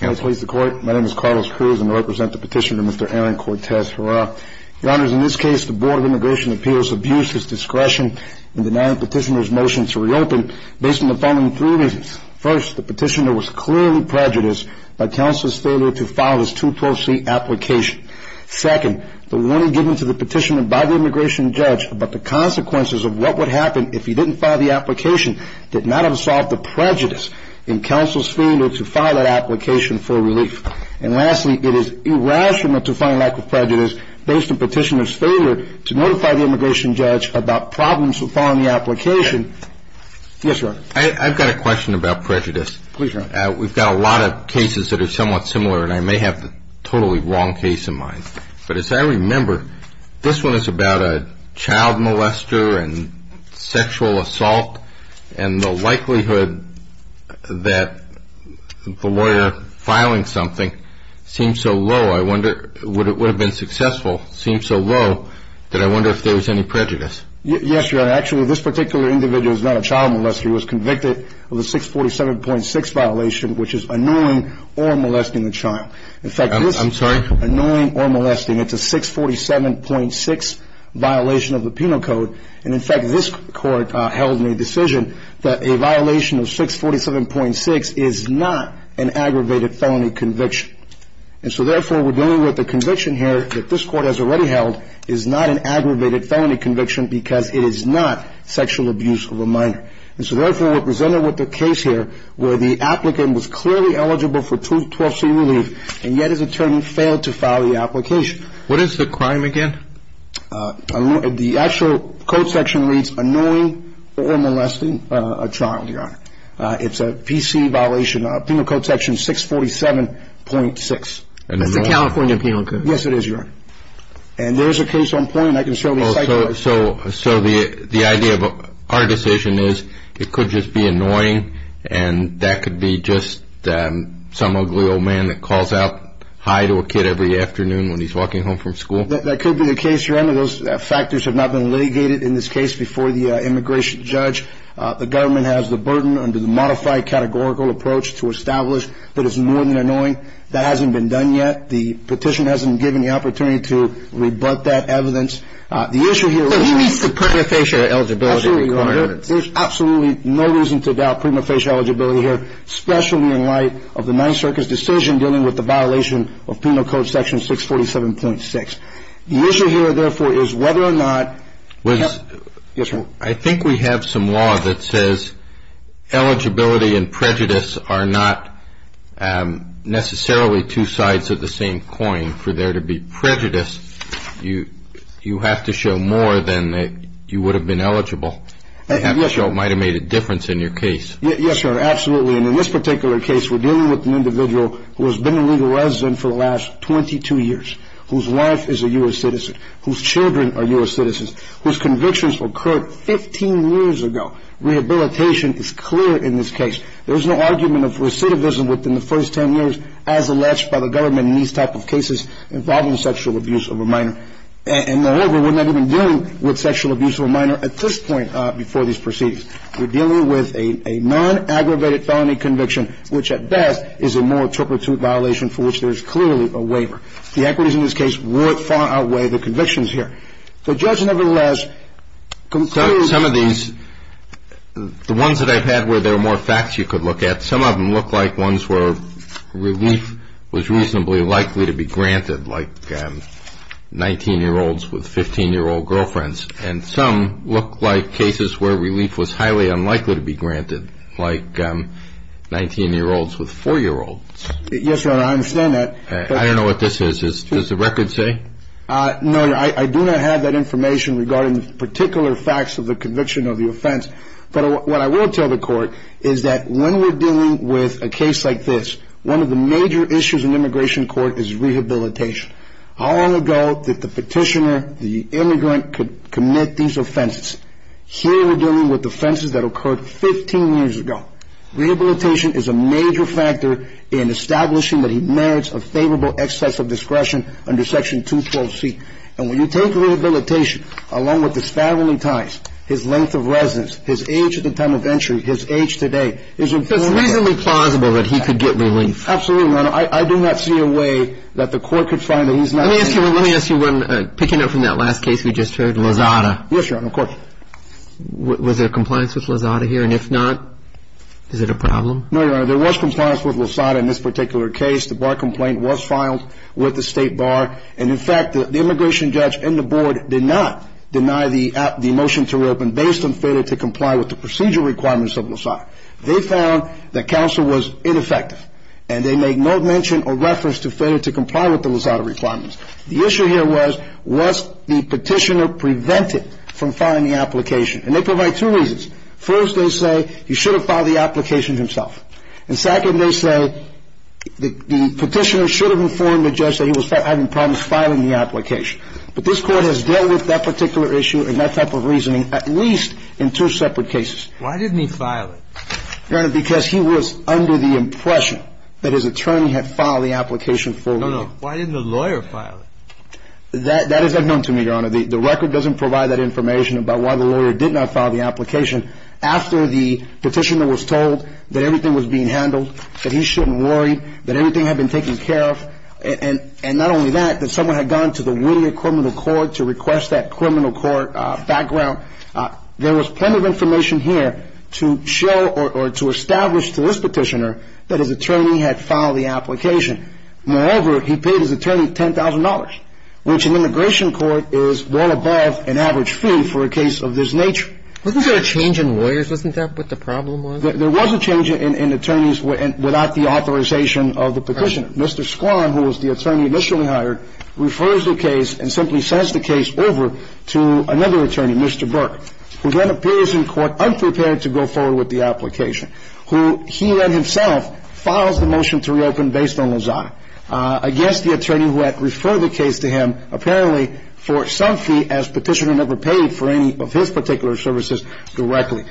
My name is Carlos Cruz and I represent the petitioner, Mr. Aaron Cortez-Herrera. Your Honor, in this case, the Board of Immigration Appeals abused his discretion in denying the petitioner's motion to reopen based on the following three reasons. First, the petitioner was clearly prejudiced by counsel's failure to file his 212c application. Second, the warning given to the petitioner by the immigration judge about the consequences of what would happen if he didn't file the application did not have solved the prejudice in counsel's failure to file that application for relief. And lastly, it is irrational to file a lack of prejudice based on petitioner's failure to notify the immigration judge about problems with filing the application. Yes, Your Honor. I've got a question about prejudice. Please, Your Honor. We've got a lot of cases that are somewhat similar, and I may have the totally wrong case in mind. But as I remember, this one is about a child molester and sexual assault. And the likelihood that the lawyer filing something seems so low, I wonder, would have been successful, seems so low, that I wonder if there was any prejudice. Yes, Your Honor. Actually, this particular individual is not a child molester. He was convicted of a 647.6 violation, which is annoying or molesting a child. I'm sorry? Annoying or molesting. It's a 647.6 violation of the penal code. And, in fact, this Court held in a decision that a violation of 647.6 is not an aggravated felony conviction. And so, therefore, we're dealing with a conviction here that this Court has already held is not an aggravated felony conviction because it is not sexual abuse of a minor. And so, therefore, we're presented with a case here where the applicant was clearly eligible for 212c relief, and yet his attorney failed to file the application. What is the crime again? The actual code section reads annoying or molesting a child, Your Honor. It's a PC violation, Penal Code Section 647.6. That's the California Penal Code. Yes, it is, Your Honor. And there's a case on point, and I can certainly cite it. So the idea of our decision is it could just be annoying, and that could be just some ugly old man that calls out hi to a kid every afternoon when he's walking home from school? That could be the case, Your Honor. Those factors have not been litigated in this case before the immigration judge. The government has the burden under the modified categorical approach to establish that it's more than annoying. That hasn't been done yet. The petition hasn't given the opportunity to rebut that evidence. So he meets the prima facie eligibility requirements. Absolutely, Your Honor. There's absolutely no reason to doubt prima facie eligibility here, especially in light of the Ninth Circus decision dealing with the violation of Penal Code Section 647.6. The issue here, therefore, is whether or not... I think we have some law that says eligibility and prejudice are not necessarily two sides of the same coin. For there to be prejudice, you have to show more than that you would have been eligible. You have to show it might have made a difference in your case. Yes, Your Honor, absolutely. And in this particular case, we're dealing with an individual who has been a legal resident for the last 22 years, whose wife is a U.S. citizen, whose children are U.S. citizens, whose convictions occurred 15 years ago. Rehabilitation is clear in this case. There is no argument of recidivism within the first 10 years as alleged by the government in these type of cases involving sexual abuse of a minor. And, moreover, we're not even dealing with sexual abuse of a minor at this point before these proceedings. We're dealing with a non-aggravated felony conviction, which at best is a more turpitude violation for which there is clearly a waiver. The equities in this case would far outweigh the convictions here. The judge, nevertheless, concludes... Some of these, the ones that I've had where there are more facts you could look at, some of them look like ones where relief was reasonably likely to be granted, like 19-year-olds with 15-year-old girlfriends. And some look like cases where relief was highly unlikely to be granted, like 19-year-olds with 4-year-olds. Yes, Your Honor, I understand that. I don't know what this is. Does the record say? No, Your Honor. I do not have that information regarding the particular facts of the conviction of the offense. But what I will tell the court is that when we're dealing with a case like this, one of the major issues in immigration court is rehabilitation. How long ago did the petitioner, the immigrant, commit these offenses? Here we're dealing with offenses that occurred 15 years ago. Rehabilitation is a major factor in establishing that he merits a favorable excess of discretion under Section 212C. And when you take rehabilitation, along with his family ties, his length of residence, his age at the time of entry, his age today, his infirmary... It's reasonably plausible that he could get relief. Absolutely, Your Honor. I do not see a way that the court could find that he's not... Let me ask you one, picking up from that last case we just heard, Lozada. Yes, Your Honor, of course. Was there compliance with Lozada here? And if not, is it a problem? No, Your Honor. There was compliance with Lozada in this particular case. The bar complaint was filed with the state bar. And, in fact, the immigration judge and the board did not deny the motion to reopen based on failure to comply with the procedural requirements of Lozada. They found that counsel was ineffective. And they made no mention or reference to failure to comply with the Lozada requirements. The issue here was, was the petitioner prevented from filing the application? And they provide two reasons. First, they say he should have filed the application himself. And second, they say the petitioner should have informed the judge that he was having problems filing the application. But this Court has dealt with that particular issue and that type of reasoning at least in two separate cases. Why didn't he file it? Your Honor, because he was under the impression that his attorney had filed the application for relief. No, no. Why didn't the lawyer file it? That is unknown to me, Your Honor. The record doesn't provide that information about why the lawyer did not file the application. After the petitioner was told that everything was being handled, that he shouldn't worry, that everything had been taken care of, and not only that, that someone had gone to the Whittier Criminal Court to request that criminal court background, there was plenty of information here to show or to establish to this petitioner that his attorney had filed the application. Moreover, he paid his attorney $10,000, which in immigration court is well above an average fee for a case of this nature. Wasn't there a change in lawyers? Wasn't that what the problem was? There was a change in attorneys without the authorization of the petitioner. Mr. Squam, who was the attorney initially hired, refers the case and simply sends the case over to another attorney, Mr. Burke, who then appears in court unprepared to go forward with the application, who he then himself files the motion to reopen based on Lozada against the attorney who had referred the case to him, apparently for some fee, as petitioner never paid for any of his particular services directly.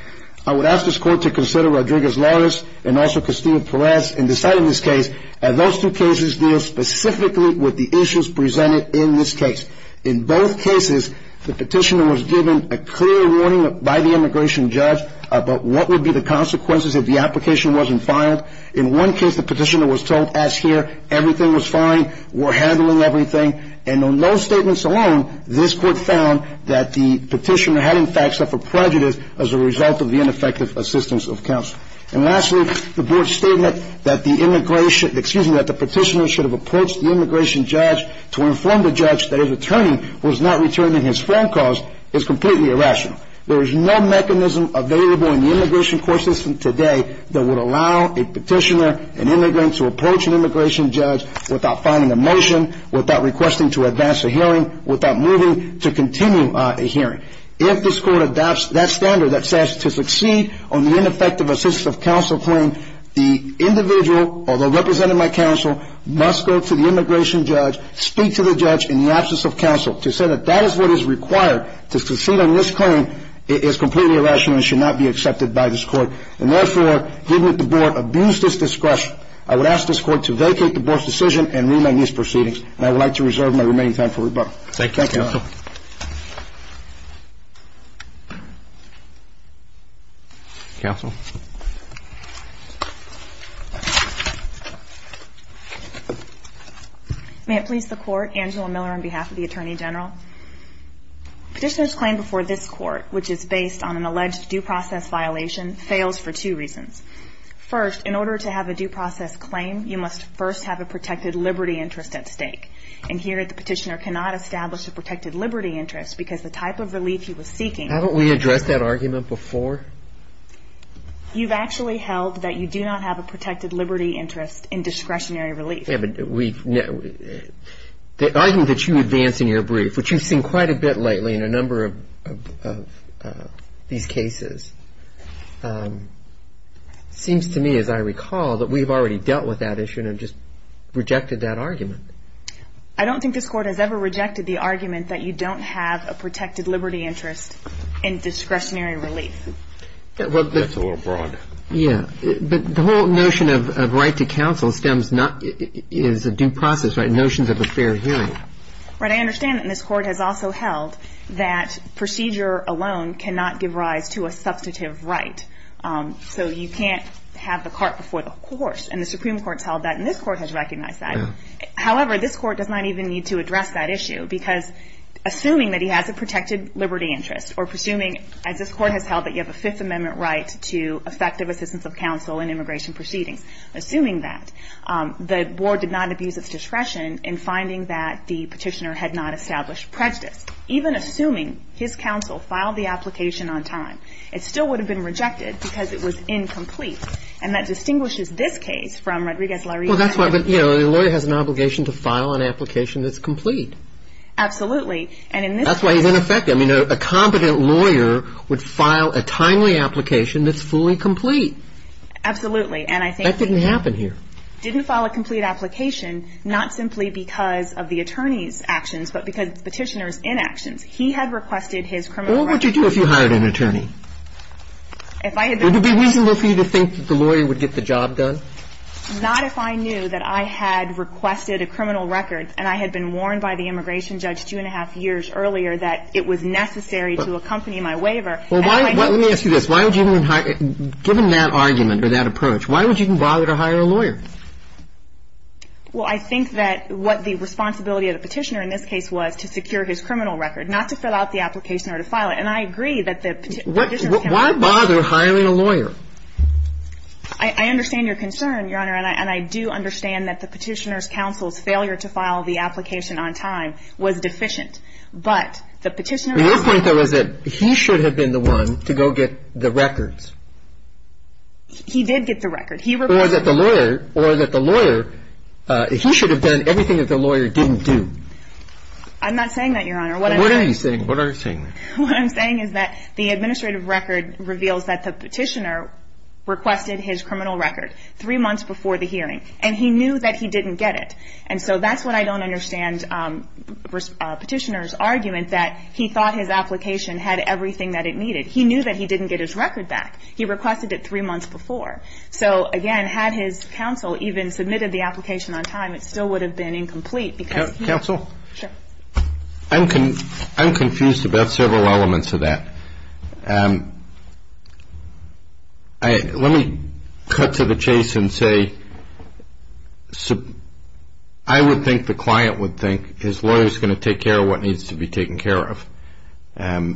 I would ask this court to consider Rodriguez-Lawrence and also Castillo-Perez in deciding this case, as those two cases deal specifically with the issues presented in this case. In both cases, the petitioner was given a clear warning by the immigration judge about what would be the consequences if the application wasn't filed. In one case, the petitioner was told, as here, everything was fine, we're handling everything. And on those statements alone, this court found that the petitioner had in fact suffered prejudice as a result of the ineffective assistance of counsel. And lastly, the board's statement that the immigration, excuse me, that the petitioner should have approached the immigration judge to inform the judge that his attorney was not returning his phone calls is completely irrational. There is no mechanism available in the immigration court system today that would allow a petitioner, an immigrant, to approach an immigration judge without filing a motion, without requesting to advance a hearing, without moving to continue a hearing. If this court adopts that standard that says to succeed on the ineffective assistance of counsel claim, the individual, although representing my counsel, must go to the immigration judge, speak to the judge in the absence of counsel. To say that that is what is required to succeed on this claim is completely irrational and should not be accepted by this court. And therefore, given that the board abused its discretion, I would ask this court to vacate the board's decision and remain in these proceedings. And I would like to reserve my remaining time for rebuttal. Thank you, counsel. Counsel. May it please the court, Angela Miller on behalf of the Attorney General. Petitioner's claim before this court, which is based on an alleged due process violation, fails for two reasons. First, in order to have a due process claim, you must first have a protected liberty interest at stake. And here, the petitioner cannot establish a protected liberty interest because the type of relief he was seeking. Haven't we addressed that argument before? You've actually held that you do not have a protected liberty interest in discretionary relief. Yeah, but the argument that you advance in your brief, which you've seen quite a bit lately in a number of these cases, seems to me, as I recall, that we've already dealt with that issue and have just rejected that argument. I don't think this court has ever rejected the argument that you don't have a protected liberty interest in discretionary relief. That's a little broad. Yeah. But the whole notion of right to counsel stems not – is a due process, right, notions of a fair hearing. Right. I understand that this court has also held that procedure alone cannot give rise to a substantive right. So you can't have the cart before the horse. And the Supreme Court's held that, and this court has recognized that. However, this court does not even need to address that issue because assuming that he has a protected liberty interest or presuming, as this court has held, that you have a Fifth Amendment right to effective assistance of counsel in immigration proceedings, assuming that, the board did not abuse its discretion in finding that the petitioner had not established prejudice. Even assuming his counsel filed the application on time, it still would have been rejected because it was incomplete. And that distinguishes this case from Rodriguez-Larry's case. Well, that's why – but, you know, the lawyer has an obligation to file an application that's complete. Absolutely. And in this case – That's why he's ineffective. I mean, a competent lawyer would file a timely application that's fully complete. Absolutely. And I think he – That didn't happen here. Didn't file a complete application, not simply because of the attorney's actions, but because of the petitioner's inactions. He had requested his criminal record. What would you do if you hired an attorney? If I had been – Would it be reasonable for you to think that the lawyer would get the job done? Not if I knew that I had requested a criminal record and I had been warned by the immigration judge two and a half years earlier that it was necessary to accompany my waiver. Well, why – let me ask you this. Why would you even hire – given that argument or that approach, why would you even bother to hire a lawyer? Well, I think that what the responsibility of the petitioner in this case was to secure his criminal record, not to fill out the application or to file it. And I agree that the petitioner – Why bother hiring a lawyer? I understand your concern, Your Honor. And I do understand that the petitioner's counsel's failure to file the application on time was deficient. But the petitioner's counsel – Your point, though, is that he should have been the one to go get the records. He did get the records. He requested – Or that the lawyer – or that the lawyer – he should have done everything that the lawyer didn't do. I'm not saying that, Your Honor. What I'm saying – What are you saying? What are you saying? What I'm saying is that the administrative record reveals that the petitioner requested his criminal record three months before the hearing. And he knew that he didn't get it. And so that's what I don't understand petitioner's argument, that he thought his application had everything that it needed. He knew that he didn't get his record back. He requested it three months before. So, again, had his counsel even submitted the application on time, it still would have been incomplete because – Counsel? Sure. I'm confused about several elements of that. Let me cut to the chase and say I would think the client would think his lawyer is going to take care of what needs to be taken care of.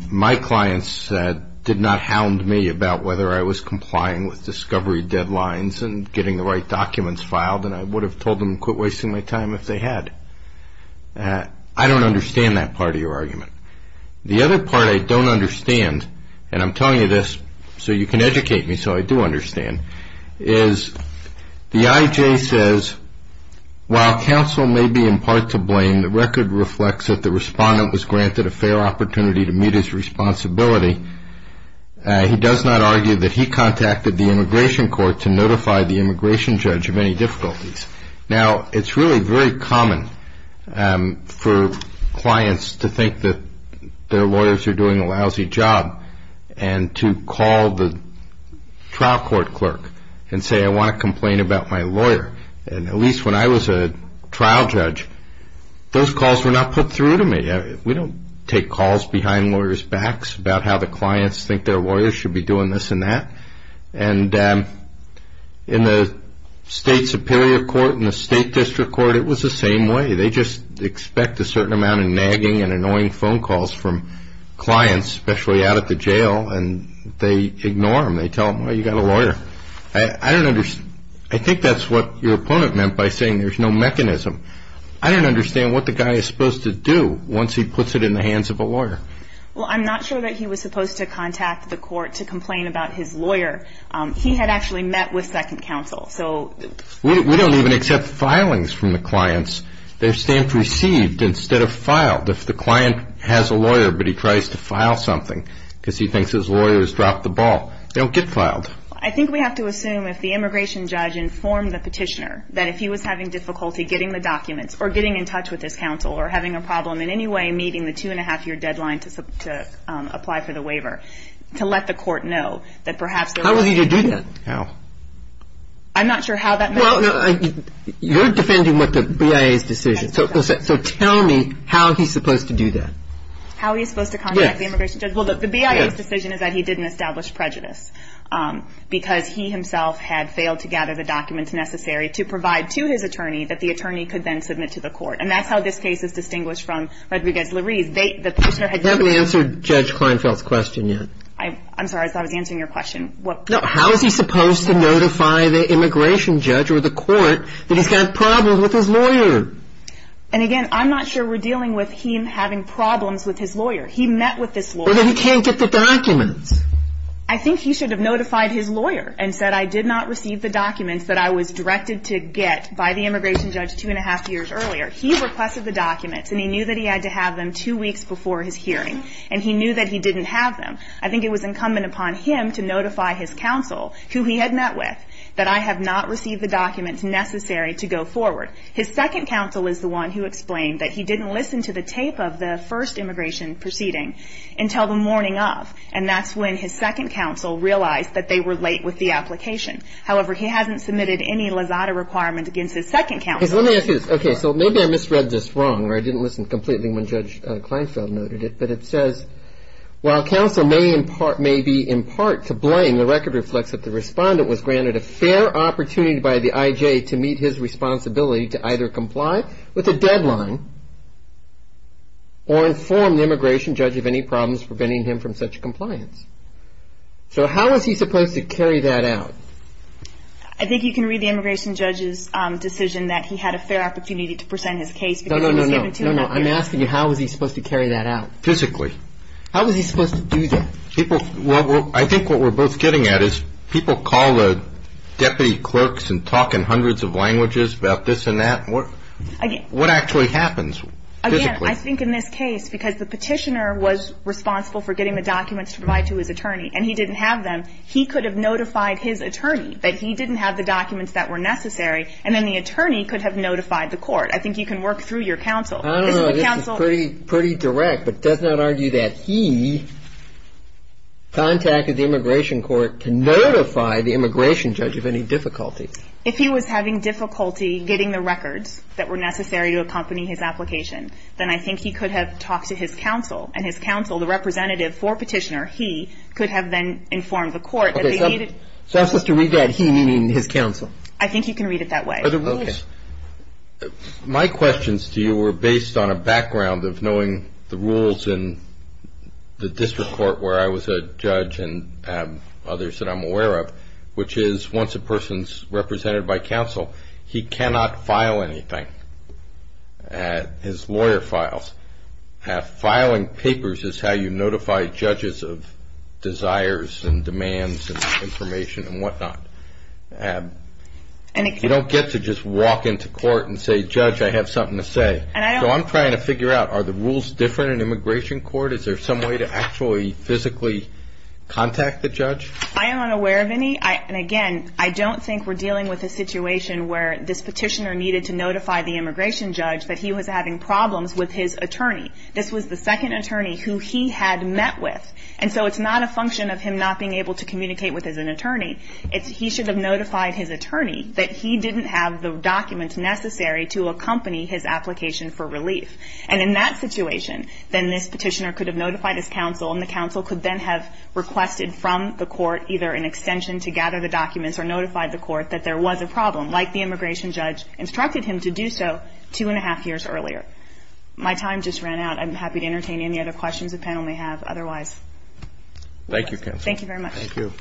My client said – did not hound me about whether I was complying with discovery deadlines and getting the right documents filed, and I would have told them to quit wasting my time if they had. I don't understand that part of your argument. The other part I don't understand, and I'm telling you this so you can educate me so I do understand, is the IJ says, while counsel may be in part to blame, the record reflects that the respondent was granted a fair opportunity to meet his responsibility. He does not argue that he contacted the immigration court to notify the immigration judge of any difficulties. Now, it's really very common for clients to think that their lawyers are doing a lousy job and to call the trial court clerk and say, I want to complain about my lawyer. And at least when I was a trial judge, those calls were not put through to me. We don't take calls behind lawyers' backs about how the clients think their lawyers should be doing this and that. And in the state superior court and the state district court, it was the same way. They just expect a certain amount of nagging and annoying phone calls from clients, especially out at the jail, and they ignore them. They tell them, well, you've got a lawyer. I think that's what your opponent meant by saying there's no mechanism. I don't understand what the guy is supposed to do once he puts it in the hands of a lawyer. Well, I'm not sure that he was supposed to contact the court to complain about his lawyer. He had actually met with second counsel. We don't even accept filings from the clients. They're stamped received instead of filed. If the client has a lawyer but he tries to file something because he thinks his lawyer has dropped the ball, they don't get filed. I think we have to assume if the immigration judge informed the petitioner that if he was having difficulty getting the documents or getting in touch with his counsel or having a problem in any way meeting the two-and-a-half-year deadline to apply for the waiver, to let the court know that perhaps there was an issue. How was he to do that? How? I'm not sure how that met. Well, you're defending what the BIA's decision. So tell me how he's supposed to do that. How he's supposed to contact the immigration judge? Yes. Well, the BIA's decision is that he didn't establish prejudice because he himself had failed to gather the documents necessary to provide to his attorney that the attorney could then submit to the court. And that's how this case is distinguished from Rodriguez-Lurie's. They haven't answered Judge Kleinfeld's question yet. I'm sorry. I thought I was answering your question. No. How is he supposed to notify the immigration judge or the court that he's got problems with his lawyer? And, again, I'm not sure we're dealing with him having problems with his lawyer. He met with his lawyer. But he can't get the documents. I think he should have notified his lawyer and said, I did not receive the documents that I was directed to get by the immigration judge two and a half years earlier. He requested the documents, and he knew that he had to have them two weeks before his hearing. And he knew that he didn't have them. I think it was incumbent upon him to notify his counsel, who he had met with, that I have not received the documents necessary to go forward. His second counsel is the one who explained that he didn't listen to the tape of the first immigration proceeding until the morning of. And that's when his second counsel realized that they were late with the application. However, he hasn't submitted any lasada requirement against his second counsel. Let me ask you this. Okay, so maybe I misread this wrong, or I didn't listen completely when Judge Kleinfeld noted it. But it says, while counsel may be in part to blame, the record reflects that the respondent was granted a fair opportunity by the IJ to meet his responsibility to either comply with a deadline or inform the immigration judge of any problems preventing him from such compliance. So how was he supposed to carry that out? I think you can read the immigration judge's decision that he had a fair opportunity to present his case. No, no, no. I'm asking you, how was he supposed to carry that out? Physically. How was he supposed to do that? I think what we're both getting at is people call the deputy clerks and talk in hundreds of languages about this and that. What actually happens physically? Again, I think in this case, because the petitioner was responsible for getting the documents to provide to his attorney, and he didn't have them, he could have notified his attorney that he didn't have the documents that were necessary, and then the attorney could have notified the court. I think you can work through your counsel. I don't know. This is pretty direct, but it does not argue that he contacted the immigration court to notify the immigration judge of any difficulty. If he was having difficulty getting the records that were necessary to accompany his application, then I think he could have talked to his counsel, and his counsel, the representative for petitioner, he, could have then informed the court that they needed. So I'm supposed to read that he meaning his counsel? I think you can read it that way. Okay. My questions to you were based on a background of knowing the rules in the district court where I was a judge and others that I'm aware of, which is once a person's represented by counsel, he cannot file anything. His lawyer files. Filing papers is how you notify judges of desires and demands and information and whatnot. You don't get to just walk into court and say, Judge, I have something to say. So I'm trying to figure out, are the rules different in immigration court? Is there some way to actually physically contact the judge? I am unaware of any. And, again, I don't think we're dealing with a situation where this petitioner needed to notify the immigration judge that he was having problems with his attorney. This was the second attorney who he had met with. And so it's not a function of him not being able to communicate with his attorney. It's he should have notified his attorney that he didn't have the documents necessary to accompany his application for relief. And in that situation, then this petitioner could have notified his counsel, and the counsel could then have requested from the court either an extension to gather the documents or notified the court that there was a problem, like the immigration judge instructed him to do so two and a half years earlier. My time just ran out. I'm happy to entertain any other questions the panel may have otherwise. Thank you, counsel. Thank you very much. Thank you.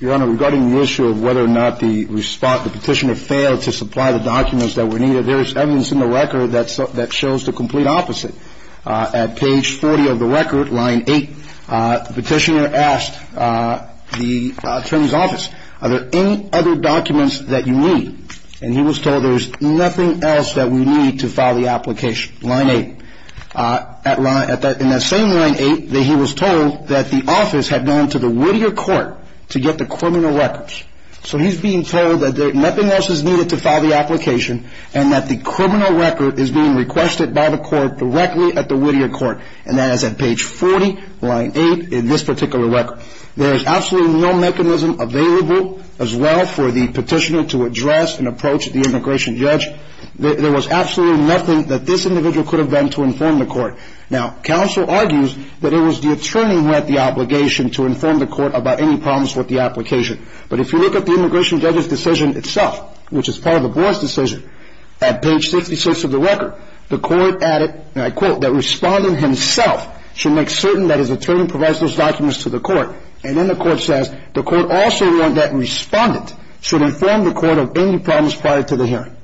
Your Honor, regarding the issue of whether or not the petitioner failed to supply the documents that were needed, there is evidence in the record that shows the complete opposite. At page 40 of the record, line 8, the petitioner asked the attorney's office, are there any other documents that you need? And he was told there's nothing else that we need to file the application, line 8. In that same line 8, he was told that the office had gone to the Whittier court to get the criminal records. So he's being told that nothing else is needed to file the application and that the criminal record is being requested by the court directly at the Whittier court, and that is at page 40, line 8, in this particular record. There is absolutely no mechanism available as well for the petitioner to address and approach the immigration judge. There was absolutely nothing that this individual could have done to inform the court. Now, counsel argues that it was the attorney who had the obligation to inform the court about any problems with the application. But if you look at the immigration judge's decision itself, which is part of the board's decision, at page 66 of the record, the court added, and I quote, that respondent himself should make certain that his attorney provides those documents to the court. And then the court says the court also warned that respondent should inform the court of any problems prior to the hearing.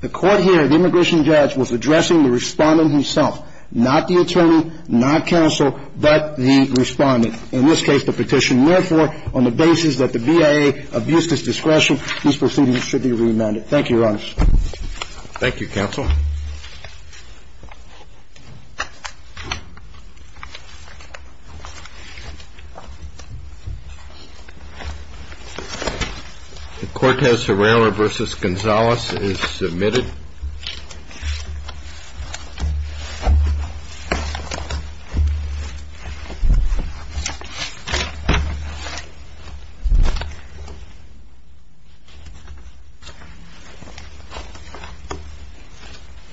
The court here, the immigration judge, was addressing the respondent himself, not the attorney, not counsel, but the respondent, in this case the petitioner. Therefore, on the basis that the BIA abused his discretion, these proceedings should be remanded. Thank you, Your Honors. Thank you, counsel. The court has Herrera v. Gonzalez is submitted.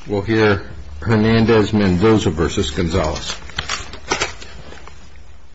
We'll hear Hernandez-Mendoza v. Gonzalez.